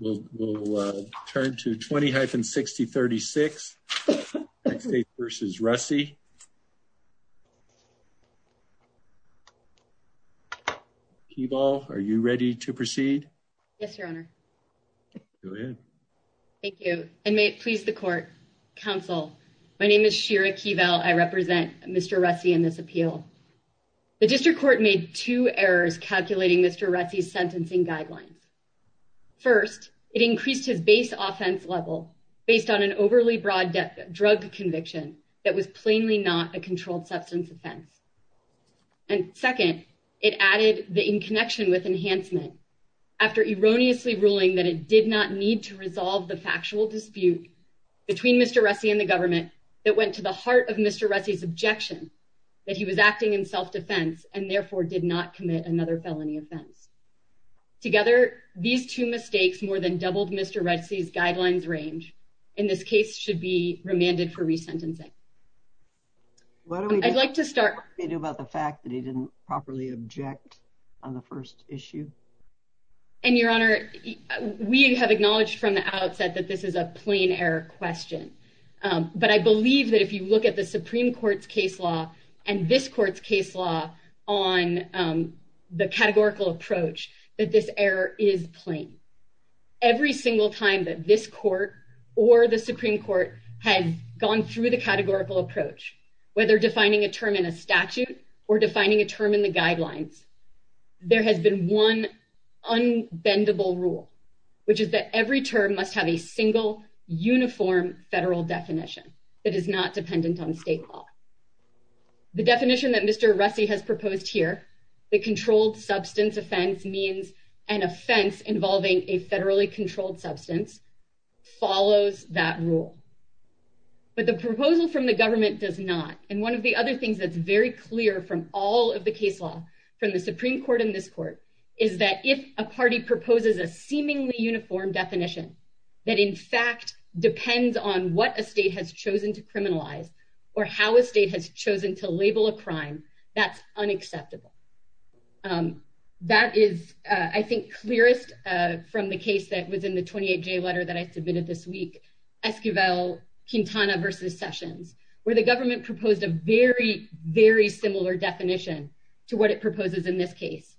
Keval, are you ready to proceed? Yes, your honor. Go ahead. Thank you, and may it please the court. Counsel, my name is Shira Keval. I represent Mr. Russey in this appeal. The district court made two errors calculating Mr. Russey's sentencing guidelines. First, it increased his base offense level based on an overly broad drug conviction that was plainly not a controlled substance offense. And second, it added the in connection with enhancement after erroneously ruling that it did not need to resolve the factual dispute between Mr. Russey and the government that went to the another felony offense. Together, these two mistakes more than doubled Mr. Russey's guidelines range. In this case, should be remanded for resentencing. What do we like to start about the fact that he didn't properly object on the first issue? And your honor, we have acknowledged from the outset that this is a plain error question. But I believe that if you look at the Supreme Court's case law and this court's case law on the categorical approach, that this error is plain. Every single time that this court or the Supreme Court has gone through the categorical approach, whether defining a term in a statute or defining a term in the guidelines, there has been one unbendable rule, which is that every term must have a single uniform federal definition that is not dependent on state law. The definition that Mr. Russey has proposed here, the controlled substance offense means an offense involving a federally controlled substance follows that rule. But the proposal from the government does not. And one of the other things that's very clear from all of the case law from the Supreme Court in this court is that if a party proposes a seemingly uniform definition that in fact depends on what a state has chosen to criminalize or how a state has chosen to label a crime, that's unacceptable. That is, I think, clearest from the case that was in the 28-J letter that I submitted this week, Esquivel-Quintana v. Sessions, where the government proposed a very, very similar definition to what it proposes in this case,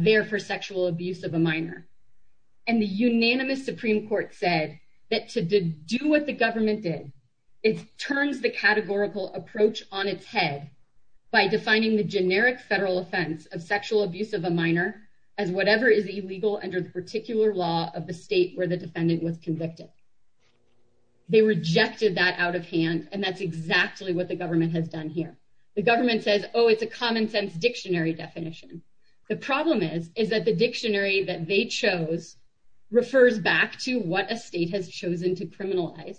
therefore sexual abuse of a minor. And the unanimous Supreme Court said that to do what the government did, it turns the categorical approach on its head by defining the generic federal offense of sexual abuse of a minor as whatever is illegal under the particular law of the state where the defendant was convicted. They rejected that out of hand, and that's exactly what the government has done here. The government says, oh, it's a common-sense dictionary definition. The problem is, is that the dictionary that they chose refers back to what a state has chosen to criminalize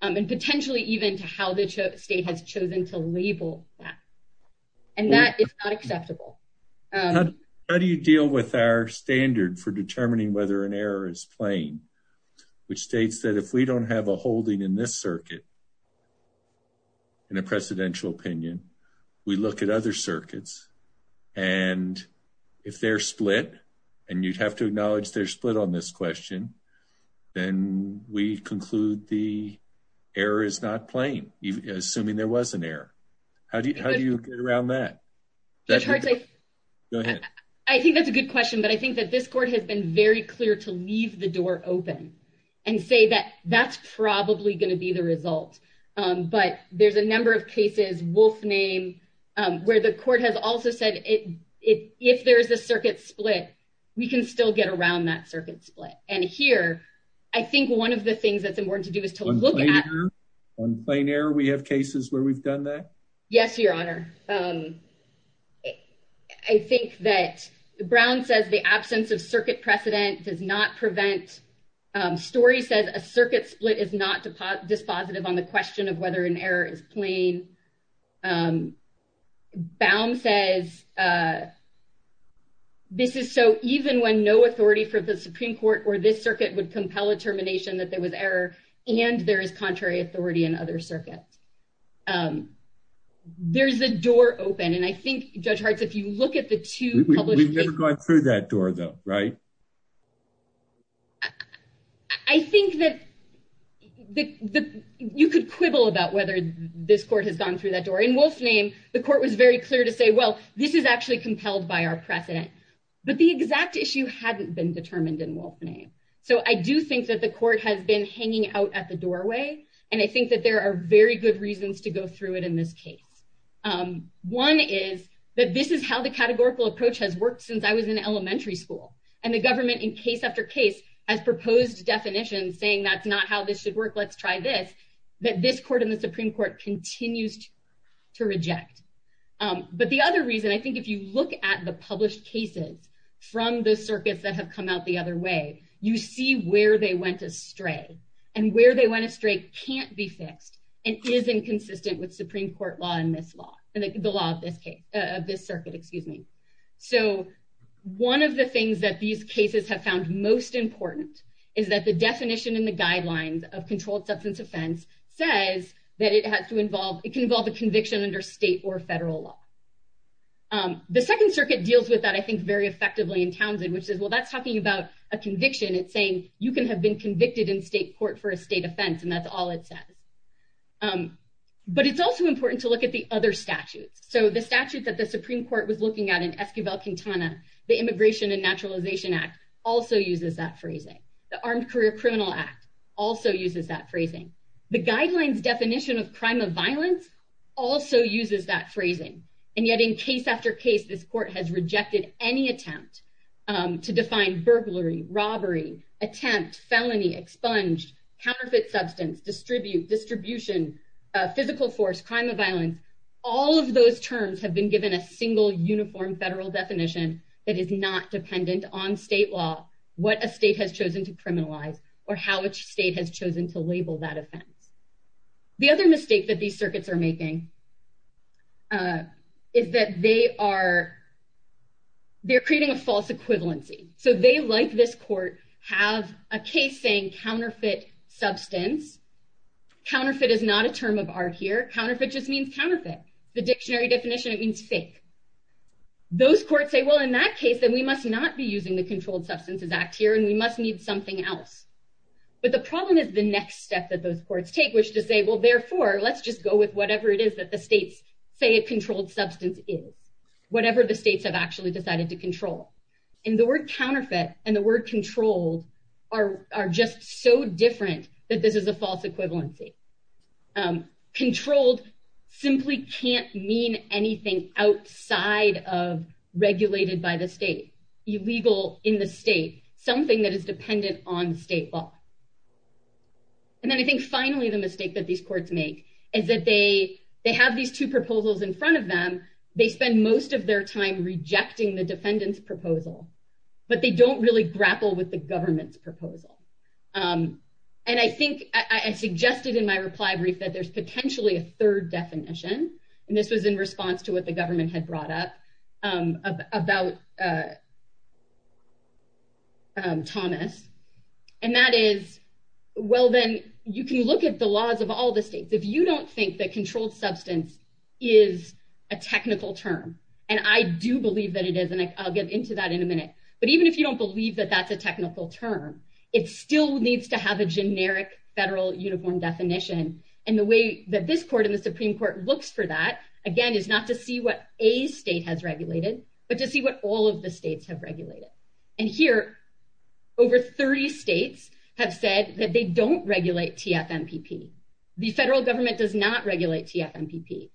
and potentially even to how the state has chosen to label that. And that is not acceptable. How do you deal with our standard for determining whether an error is plain, which states that if we don't have a holding in this circuit, in a precedential opinion, we look at other circuits, and if they're split, and you'd have to acknowledge they're split on this question, then we conclude the error is not plain, assuming there was an error. How do you get around that? Go ahead. I think that's a good question, but I think that this court has been very clear to leave the door open and say that that's probably going to be the result. But there's a number of cases, wolf name, where the court has also said, if there's a circuit split, we can still get around that circuit split. And here, I think one of the things that's important to do is to look at- On plain error, we have cases where we've done that? Yes, Your Honor. I think that Brown says the absence of circuit precedent does not prevent story, says a circuit split is not dispositive on the question of whether an error is plain. Baum says this is so even when no authority for the Supreme Court or this circuit would compel a termination that there was error, and there is contrary authority in other circuits. There's a door open, and I think, Judge Hartz, if you look at the two published- We've never gone through that door, though, right? I think that you could quibble about whether this court has gone through that door. In wolf name, the court was very clear to say, well, this is actually compelled by our precedent. But the exact issue hadn't been determined in wolf name. So I do think that the court has been hanging out at the doorway, and I think that there are very good reasons to go through it in this case. One is that this is how the categorical approach has worked since I was in elementary school. And the government, in case after case, has proposed definitions saying that's not how this should work, let's try this, that this court and the Supreme Court continues to reject. But the other reason, I think if you look at the published cases from the circuits that have come out the other way, you see where they went astray. And where they went astray can't be fixed, and isn't consistent with Supreme Court law and this law, the law of this case, of this circuit, excuse me. So one of the things that these cases have found most important is that the definition in the guidelines of controlled substance offense says that it has to involve, it can involve a conviction under state or federal law. The Second Circuit deals with that, I think, very effectively in Townsend, which says, well, that's talking about a conviction. It's saying you can have been convicted in state court for a state offense, and that's all it says. But it's also important to look at the other statutes. So the statute that the Supreme Court was looking at in Esquivel-Quintana, the Immigration and Naturalization Act, also uses that phrasing. The Armed Career Criminal Act also uses that phrasing. The guidelines definition of crime of violence also uses that phrasing. And yet in case after case, this court has rejected any attempt to define burglary, robbery, attempt, felony, expunged, counterfeit substance, distribute, distribution, physical force, crime of violence. All of those terms have been given a single uniform federal definition that is not dependent on state law, what a state has chosen to criminalize, or how a state has chosen to label that offense. The other mistake that these circuits are making is that they are creating a false equivalency. So they, like this court, have a case saying counterfeit substance. Counterfeit is not a counterfeit. The dictionary definition, it means fake. Those courts say, well, in that case, then we must not be using the Controlled Substances Act here, and we must need something else. But the problem is the next step that those courts take, which is to say, well, therefore, let's just go with whatever it is that the states say a controlled substance is, whatever the states have actually decided to control. And the word counterfeit and the word controlled are just so different that this is a false equivalency. Controlled simply can't mean anything outside of regulated by the state, illegal in the state, something that is dependent on state law. And then I think, finally, the mistake that these courts make is that they have these two proposals in front of them. They spend most of their time rejecting the defendant's proposal, but they don't really grapple with the government's proposal. And I think I suggested in my reply brief that there's potentially a third definition, and this was in response to what the government had brought up about Thomas, and that is, well, then you can look at the laws of all the states. If you don't think that controlled substance is a technical term, and I do believe that it is, and I'll get into that in a minute, but even if you don't believe that that's a technical term, it still needs to have a generic federal uniform definition. And the way that this court in the Supreme Court looks for that, again, is not to see what a state has regulated, but to see what all of the states have regulated. And here, over 30 states have said that they don't regulate TFMPP. The federal government does not regulate TFMPP.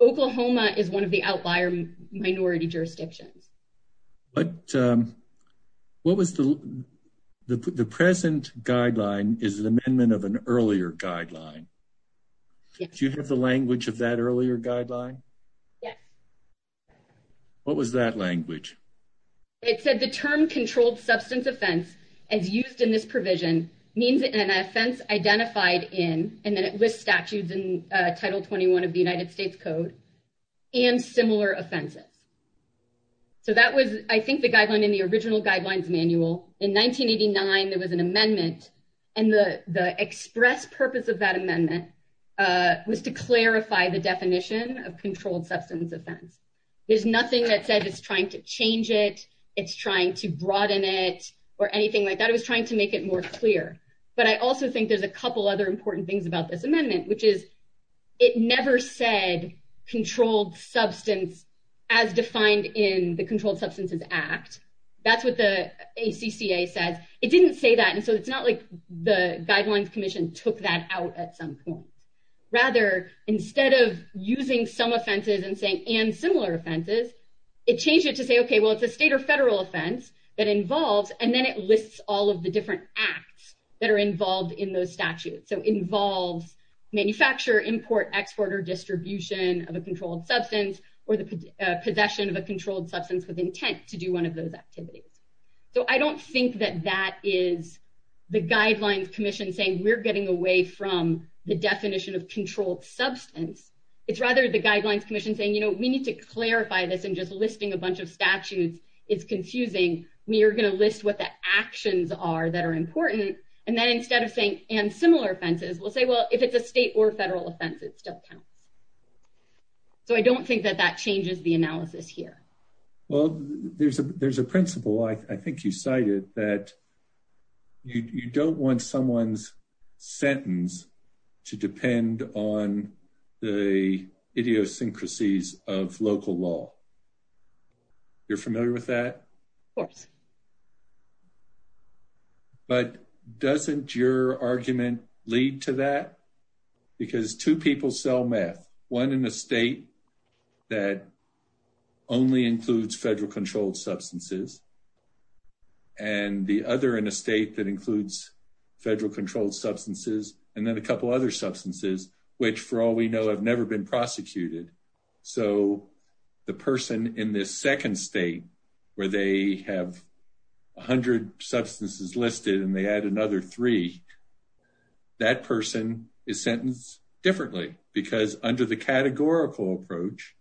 Oklahoma is one of the outlier minority jurisdictions. But what was the present guideline is an amendment of an earlier guideline. Do you have the language of that earlier guideline? Yes. What was that language? It said the term controlled substance offense, as used in this provision, means an offense identified in, and then it lists statutes in Title 21 of the United States Code for Offenses. So that was, I think, the guideline in the original guidelines manual. In 1989, there was an amendment, and the express purpose of that amendment was to clarify the definition of controlled substance offense. There's nothing that said it's trying to change it, it's trying to broaden it, or anything like that. It was trying to make it more clear. But I also think there's a couple other important things about this amendment, which is it never said controlled substance as defined in the Controlled Substances Act. That's what the ACCA said. It didn't say that, and so it's not like the Guidelines Commission took that out at some point. Rather, instead of using some offenses and saying, and similar offenses, it changed it to say, okay, well, it's a state or federal offense that involves, and then it lists all of the different acts that are involved in those statutes. So involves manufacture, import, export, or distribution of a controlled substance, or the possession of a controlled substance with intent to do one of those activities. So I don't think that that is the Guidelines Commission saying we're getting away from the definition of controlled substance. It's rather the Guidelines Commission saying, you know, we need to clarify this, and just listing a bunch of statutes is confusing. We are going to list what the actions are that are important, and then instead of saying, and similar offenses, we'll say, well, if it's a state or federal offense, it still counts. So I don't think that that changes the analysis here. Well, there's a principle, I think you cited, that you don't want someone's sentence to depend on the idiosyncrasies of local law. You're familiar with that? Of course. But doesn't your argument lead to that? Because two people sell meth, one in a state that only includes federal controlled substances, and the other in a state that includes federal controlled substances, and then a couple other substances, which, for all we know, have never been prosecuted. So the person in this second state, where they have 100 substances listed, and they add another three, that person is sentenced differently, because under the categorical approach,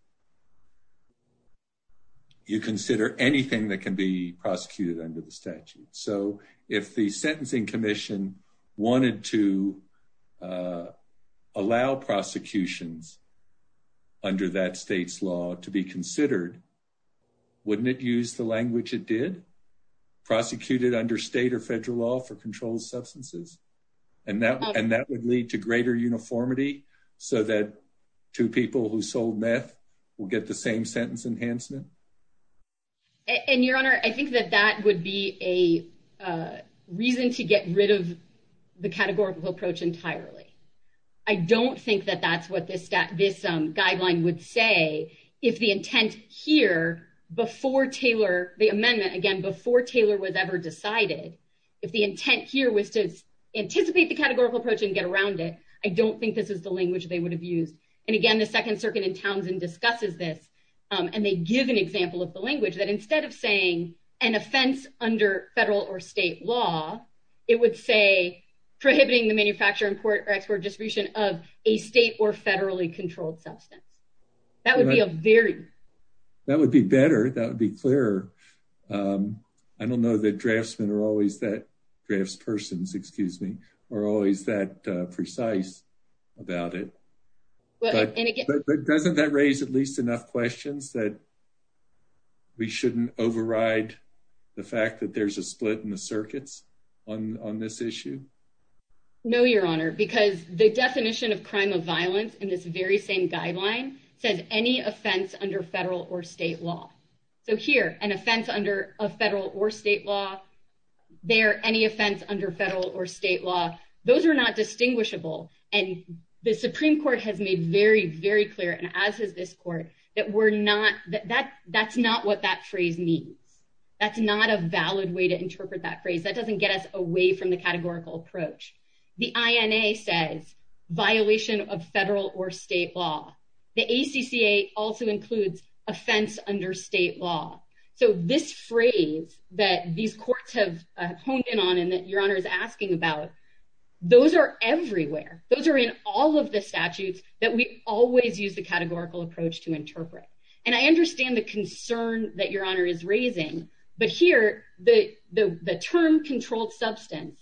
you consider anything that can be prosecuted under the statute. So if the Sentencing Commission wanted to allow prosecutions under that state's law to be considered, wouldn't it use the language it did? Prosecute it under state or federal law for controlled substances? And that would lead to greater uniformity, so that two people who sold enhancements? And, Your Honor, I think that that would be a reason to get rid of the categorical approach entirely. I don't think that that's what this guideline would say, if the intent here, before Taylor, the amendment, again, before Taylor was ever decided, if the intent here was to anticipate the categorical approach and get around it, I don't think this is the language they would use. And again, the Second Circuit in Townsend discusses this, and they give an example of the language that instead of saying an offense under federal or state law, it would say prohibiting the manufacture, import, or export distribution of a state or federally controlled substance. That would be a very... That would be better. That would be clearer. I don't know that draftsmen are always that, draftspersons, excuse me, are always that precise about it. But doesn't that raise at least enough questions that we shouldn't override the fact that there's a split in the circuits on this issue? No, Your Honor, because the definition of crime of violence in this very same guideline says any offense under federal or state law. So here, an offense under a federal or state law, there, any offense under federal or state law, those are not distinguishable. And the Supreme Court has made very, very clear, and as has this court, that we're not... That's not what that phrase means. That's not a valid way to interpret that phrase. That doesn't get us away from the categorical approach. The INA says violation of federal or state law. The ACCA also includes offense under state law. So this phrase that these courts have honed in on and that Your Honor is asking about, those are everywhere. Those are in all of the statutes that we always use the categorical approach to interpret. And I understand the concern that Your Honor is raising, but here, the term controlled substance,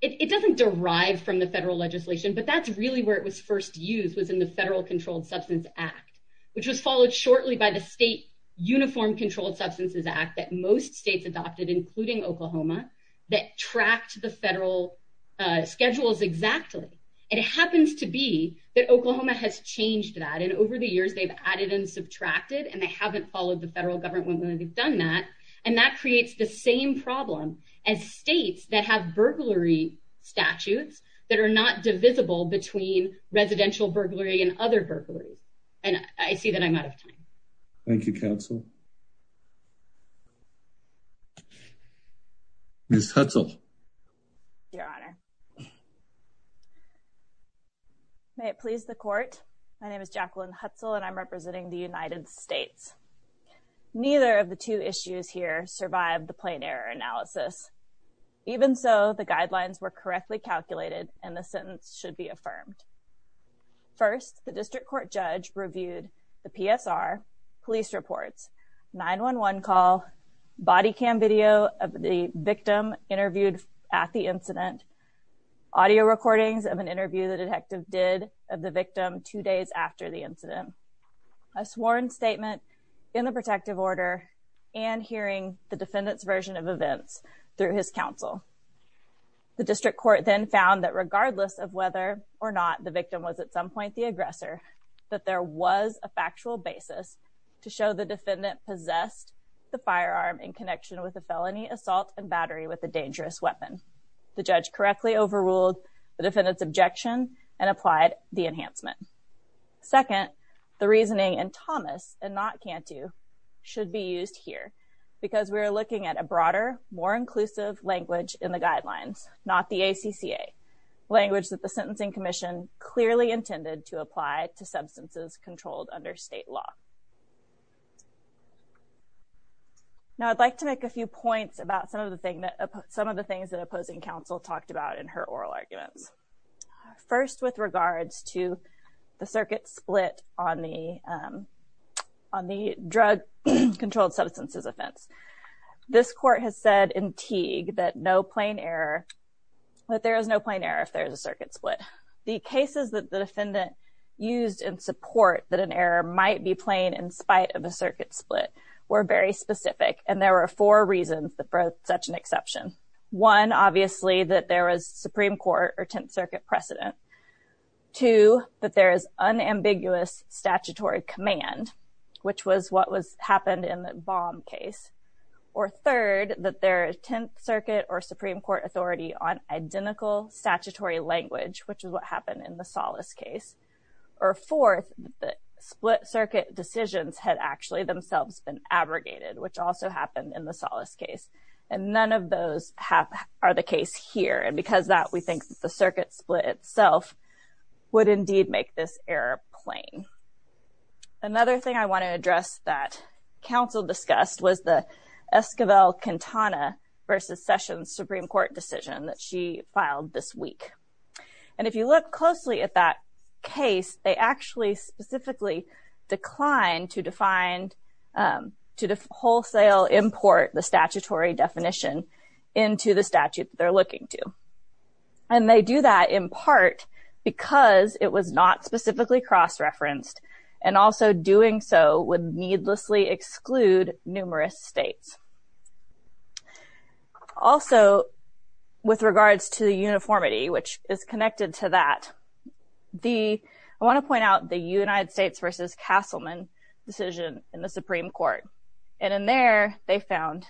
it doesn't derive from the federal legislation, but that's really where it was first used was in the Federal Controlled Substance Act, which was followed shortly by the State Uniform Controlled Substances Act that most states adopted, including Oklahoma, that tracked the federal schedules exactly. It happens to be that Oklahoma has changed that. And over the years, they've added and subtracted, and they haven't followed the federal government when they've done that. And that creates the same problem as states that have burglary statutes that are not divisible between residential burglary and other burglaries. And I see that I'm out of time. Thank you, counsel. Ms. Hutzel. Your Honor. May it please the court. My name is Jacqueline Hutzel, and I'm representing the United States. Neither of the two issues here survived the plain error analysis. Even so, the guidelines were correctly calculated, and the sentence should be affirmed. First, the district court judge reviewed the PSR, police reports, 911 call, body cam video of the victim interviewed at the incident, audio recordings of an interview the detective did of the victim two days after the incident, a sworn statement in the protective order, and hearing the defendant's version of events through his counsel. The district court then found that regardless of whether or not the victim was at some point the aggressor, that there was a factual basis to show the defendant possessed the firearm in connection with a felony assault and battery with a dangerous weapon. The judge correctly overruled the defendant's because we were looking at a broader, more inclusive language in the guidelines, not the ACCA, language that the Sentencing Commission clearly intended to apply to substances controlled under state law. Now, I'd like to make a few points about some of the things that opposing counsel talked about in her oral arguments. First, with regards to the circuit split on the drug controlled substances offense, this court has said in Teague that no plain error, that there is no plain error if there is a circuit split. The cases that the defendant used in support that an error might be plain in spite of a circuit split were very specific, and there were four reasons that brought such an exception. One, obviously, that there was Supreme Court or Tenth Circuit precedent. Two, that there is unambiguous statutory command, which was what happened in the bomb case. Or third, that there is Tenth Circuit or Supreme Court authority on identical statutory language, which is what happened in the Solace case. Or fourth, that split circuit decisions had actually themselves been abrogated, which also happened in the Solace case. And none of those are the case here. And because of that, we think that the circuit split itself would indeed make this error plain. Another thing I want to address that counsel discussed was the Esquivel-Quintana versus Sessions Supreme Court decision that she filed this week. And if you look closely at that case, they actually specifically declined to define, to wholesale import the statutory definition into the statute they're looking to. And they do that in part because it was not specifically cross-referenced, and also doing so would needlessly exclude numerous states. Also, with regards to uniformity, which is connected to that, I want to point out the United States versus Castleman decision in the Supreme Court. And in there, they found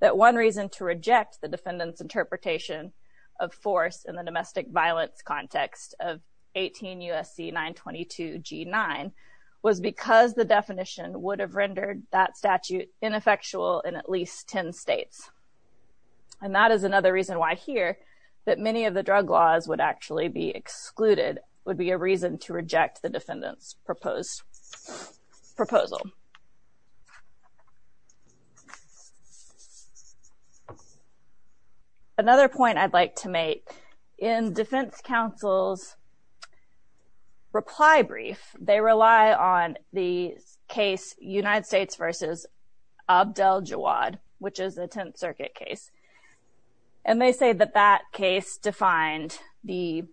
that one reason to reject the defendant's interpretation of force in the domestic violence context of 18 U.S.C. 922 G-9 was because the definition would have rendered that statute ineffectual in at least 10 states. And that is another reason why here that many of the drug laws would actually be excluded would be a reason to reject. Another point I'd like to make, in defense counsel's reply brief, they rely on the case United States versus Abdel Jawad, which is the Tenth Circuit case. And they say that that case defined the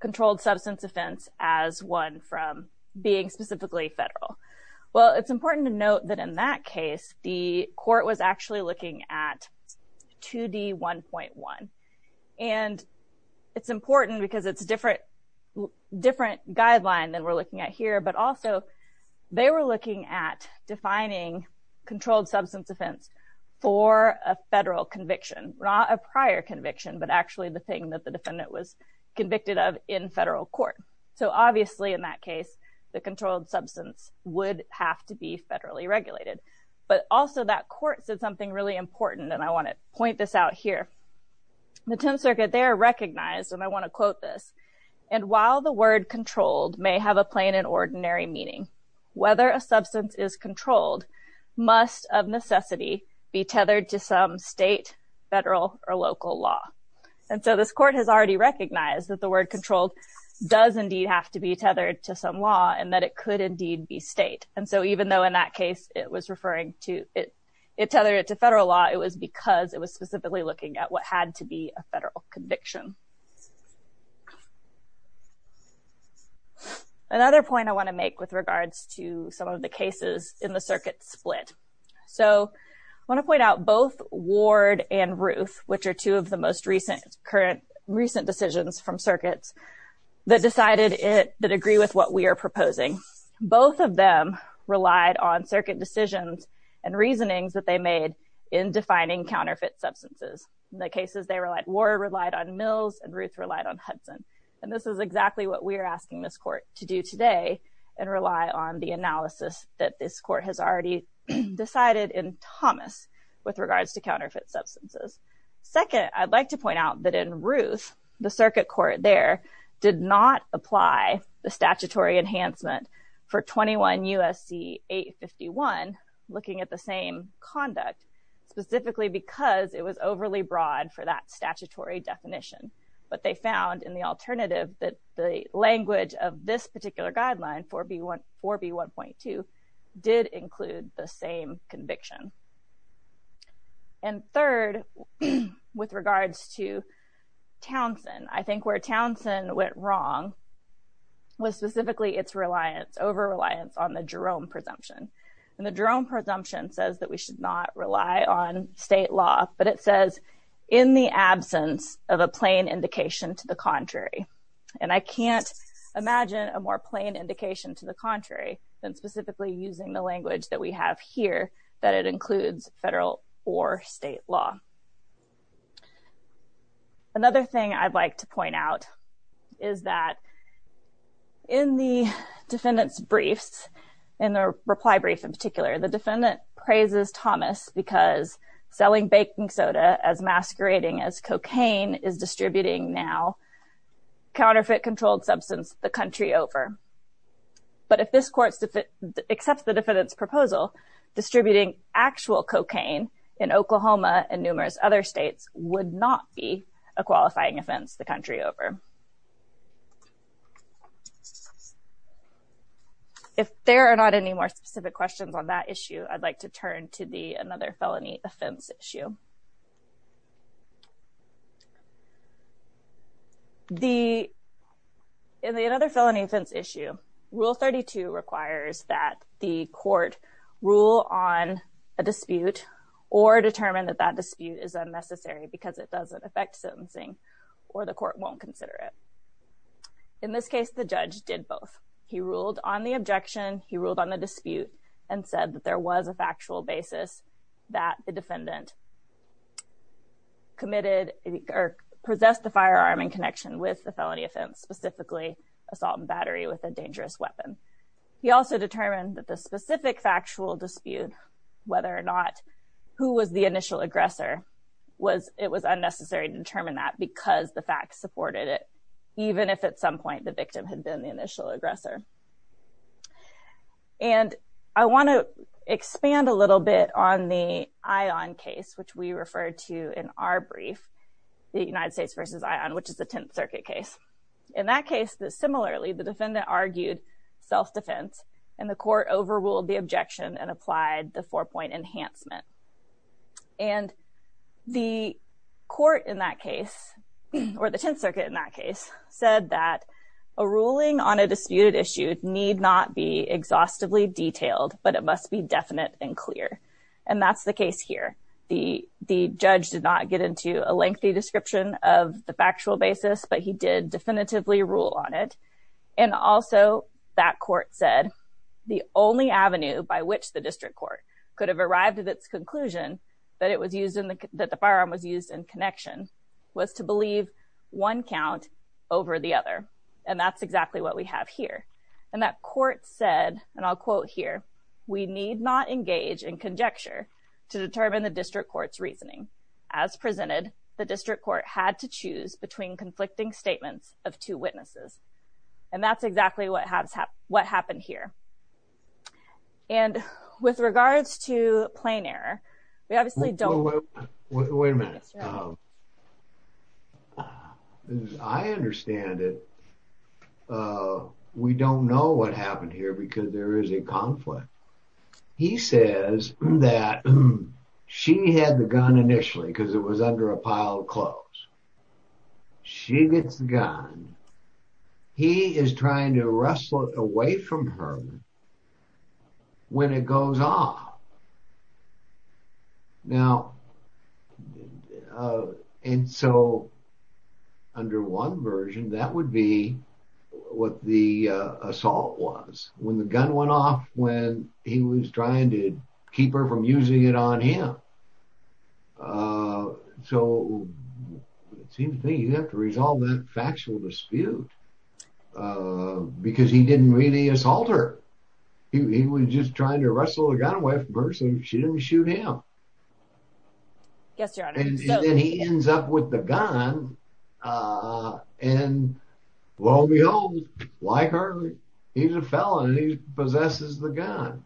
controlled substance offense as one from being specifically federal. Well, it's important to note that in that case, the court was actually looking at 2D1.1. And it's important because it's a different guideline than we're looking at here. But also, they were looking at defining controlled substance offense for a federal conviction, not a prior conviction, but actually the thing that the defendant was convicted of in federal court. So obviously, in that case, the controlled substance would have to be federally regulated. But also that court said something really important. And I want to point this out here. The Tenth Circuit, they are recognized, and I want to quote this. And while the word controlled may have a plain and ordinary meaning, whether a substance is controlled, must of necessity be tethered to some state, federal or local law. And so this court has already recognized that the word controlled does indeed have to be tethered to some law and that it could indeed be state. And so even though in that case, it was referring to it, it tethered to federal law, it was because it was specifically looking at what had to be a federal conviction. Another point I want to make with regards to some of the cases in the circuit split. So I want to that decided it that agree with what we are proposing. Both of them relied on circuit decisions and reasonings that they made in defining counterfeit substances. The cases they relied were relied on Mills and Ruth relied on Hudson. And this is exactly what we're asking this court to do today and rely on the analysis that this court has already decided in Thomas with regards to counterfeit substances. Second, I'd like to point out that in Ruth, the circuit court there did not apply the statutory enhancement for 21 USC 851, looking at the same conduct, specifically because it was overly broad for that statutory definition. But they found in the alternative that the language of this particular guideline 4B1.2 did include the same conviction. And third, with regards to Townsend, I think where Townsend went wrong, was specifically its reliance over reliance on the Jerome presumption. And the Jerome presumption says that we should not rely on state law, but it says, in the absence of a plain indication to the contrary. And I can't imagine a more plain indication to the contrary than specifically using the language that we have here, that it includes federal or state law. Another thing I'd like to point out is that in the defendant's briefs, in the reply brief in particular, the defendant praises Thomas because selling baking soda as masquerading as cocaine is distributing now counterfeit controlled substance the country over. But if this court accepts the defendant's proposal, distributing actual cocaine in Oklahoma and numerous other states would not be a qualifying offense the country over. If there are not any more specific questions on that issue, I'd like to turn to the another felony offense issue. In the another felony offense issue, rule 32 requires that the court rule on a dispute or determine that that dispute is unnecessary because it doesn't affect sentencing or the court won't consider it. In this case, the judge did both. He ruled on the objection, he ruled on the dispute, and said that there was a factual basis that the defendant possessed the firearm in connection with the felony offense, specifically assault and battery with a dangerous weapon. He also determined that the specific factual dispute, whether or not who was the initial aggressor, it was unnecessary to determine that because the facts supported it, even if at some point the victim had been the initial aggressor. And I want to expand a little bit on the ION case, which we referred to in our brief, the United States versus ION, which is the Tenth Circuit case. In that case, similarly, the defendant argued self-defense, and the court overruled the objection and applied the four-point enhancement. And the court in that case, or the Tenth Circuit in that case, said that a ruling on a disputed issue need not be exhaustively detailed, but it must be definite and clear. And that's the case here. The judge did not get into a lengthy description of the factual basis, but he did definitively rule on it. And also, that court said the only avenue by which the district court could have arrived at its conclusion that the firearm was used in connection was to believe one count over the other. And that's exactly what we have here. And that court said, and I'll quote here, we need not engage in conjecture to determine the district court's reasoning. As presented, the district court had to choose between conflicting statements of two witnesses. And that's exactly what happened here. And with regards to plain error, we obviously don't... Wait a minute. As I understand it, we don't know what happened here because there is a conflict. He says that she had the gun initially because it was under a pile of clothes. She gets the gun. He is trying to wrestle it away from her when it goes off. Now, and so under one version, that would be what the assault was. When the gun went off, when he was trying to keep her from using it on him. So it seems to me you have to resolve that factual dispute because he didn't really assault her. He was just trying to wrestle the gun away from her so she didn't shoot him. And then he ends up with the gun. And lo and behold, like her, he's a felon and he possesses the gun.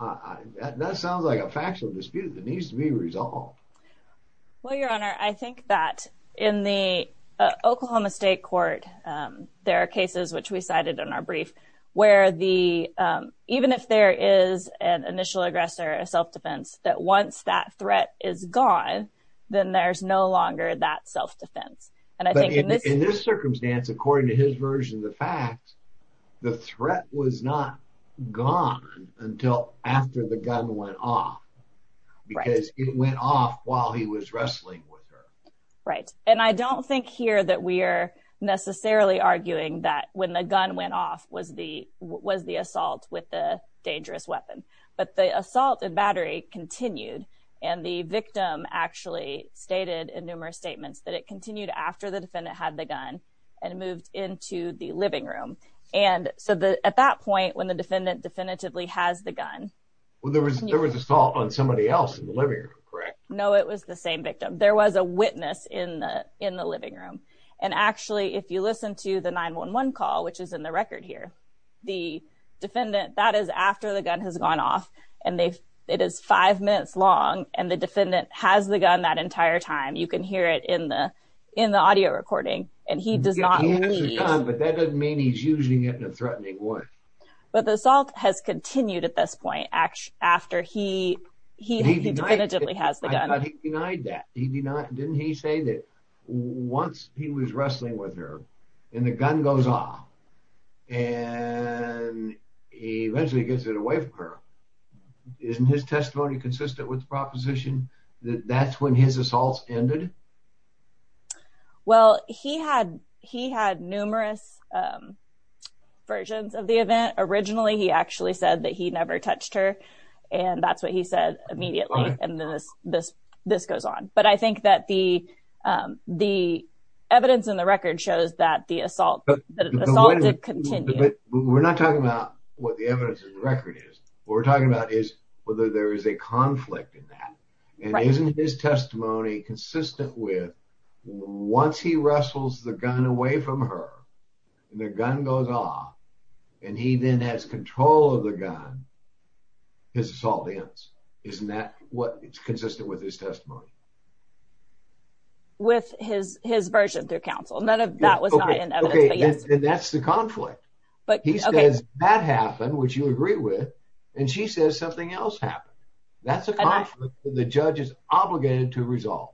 That sounds like a factual dispute that needs to be resolved. Well, your honor, I think that in the Oklahoma state court, there are cases which we cited in our brief where even if there is an initial aggressor, a self-defense, that once that circumstance, according to his version of the facts, the threat was not gone until after the gun went off because it went off while he was wrestling with her. Right. And I don't think here that we are necessarily arguing that when the gun went off was the assault with the dangerous weapon, but the assault and battery continued. And the victim actually stated in numerous statements that it continued after the defendant had the gun and moved into the living room. And so at that point, when the defendant definitively has the gun. Well, there was assault on somebody else in the living room, correct? No, it was the same victim. There was a witness in the living room. And actually, if you listen to the 911 call, which is in the record here, the defendant, that is after the gun has gone off and it is five minutes long and the defendant has the gun that entire time, you can hear it in the in the audio recording and he does not. But that doesn't mean he's using it in a threatening way. But the assault has continued at this point after he he definitively has the gun. I thought he denied that. He did not. Didn't he say that once he was wrestling with her and the gun goes off and he eventually gets it away from her? Isn't his testimony consistent with the proposition that that's when his assaults ended? Well, he had he had numerous versions of the event. Originally, he actually said that he never touched her. And that's what he said immediately. And this this this goes on. But I think that the the evidence in the record shows that the assault, the assault did continue. We're not talking about what the evidence in the record is. What we're talking about is whether there is a conflict in that. And isn't his testimony consistent with once he wrestles the gun away from her and the gun goes off and he then has control of the gun, his assault ends? Isn't that what it's consistent with his testimony? With his his version through counsel, none of that was not in evidence. That's the conflict. But he says that happened, which you agree with. And she says something else happened. That's a conflict the judge is obligated to resolve.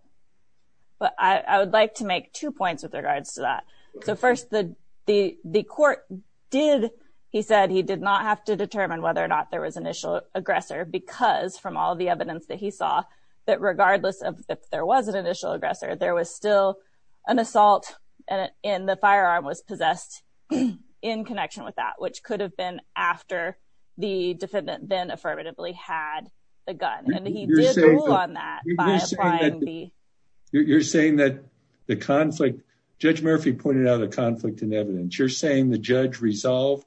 But I would like to make two points with regards to that. So first, the the the court did. He said he did not have to determine whether or not there was initial aggressor because from all of the evidence that he saw, that regardless of if there was an initial aggressor, there was still an assault and the firearm was possessed in connection with that, which could have been after the defendant then affirmatively had the gun. And he did rule on that. You're saying that you're saying that the conflict Judge Murphy pointed out a conflict in evidence. You're saying the judge resolved.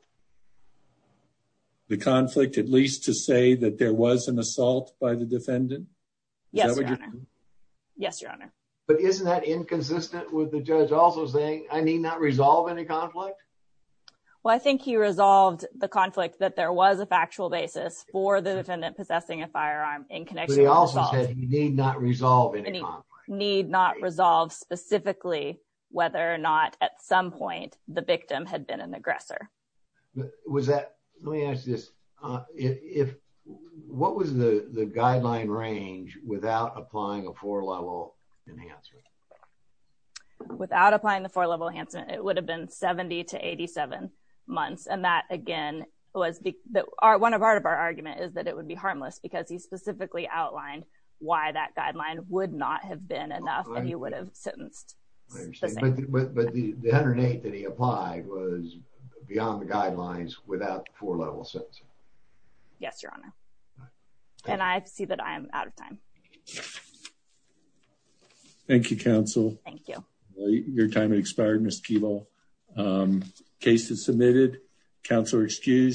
The conflict, at least to say that there was an assault by the defendant. Yes. Yes, your honor. But isn't that inconsistent with the judge also saying I need not resolve any conflict? Well, I think he resolved the conflict that there was a factual basis for the defendant possessing a firearm in connection. He also said he need not resolve any need not resolve specifically whether or not at some point the victim had been an aggressor. Was that let me range without applying a four level enhancer. Without applying the four level Hansen, it would have been 70 to 87 months. And that, again, was the one part of our argument is that it would be harmless because he specifically outlined why that guideline would not have been enough and he would have sentenced. But the other day that he applied was beyond the guidelines without four level sense. Yes, your honor. And I see that I am out of time. Thank you, counsel. Thank you. Your time has expired. Miss people. Um, cases submitted. Counselor excused.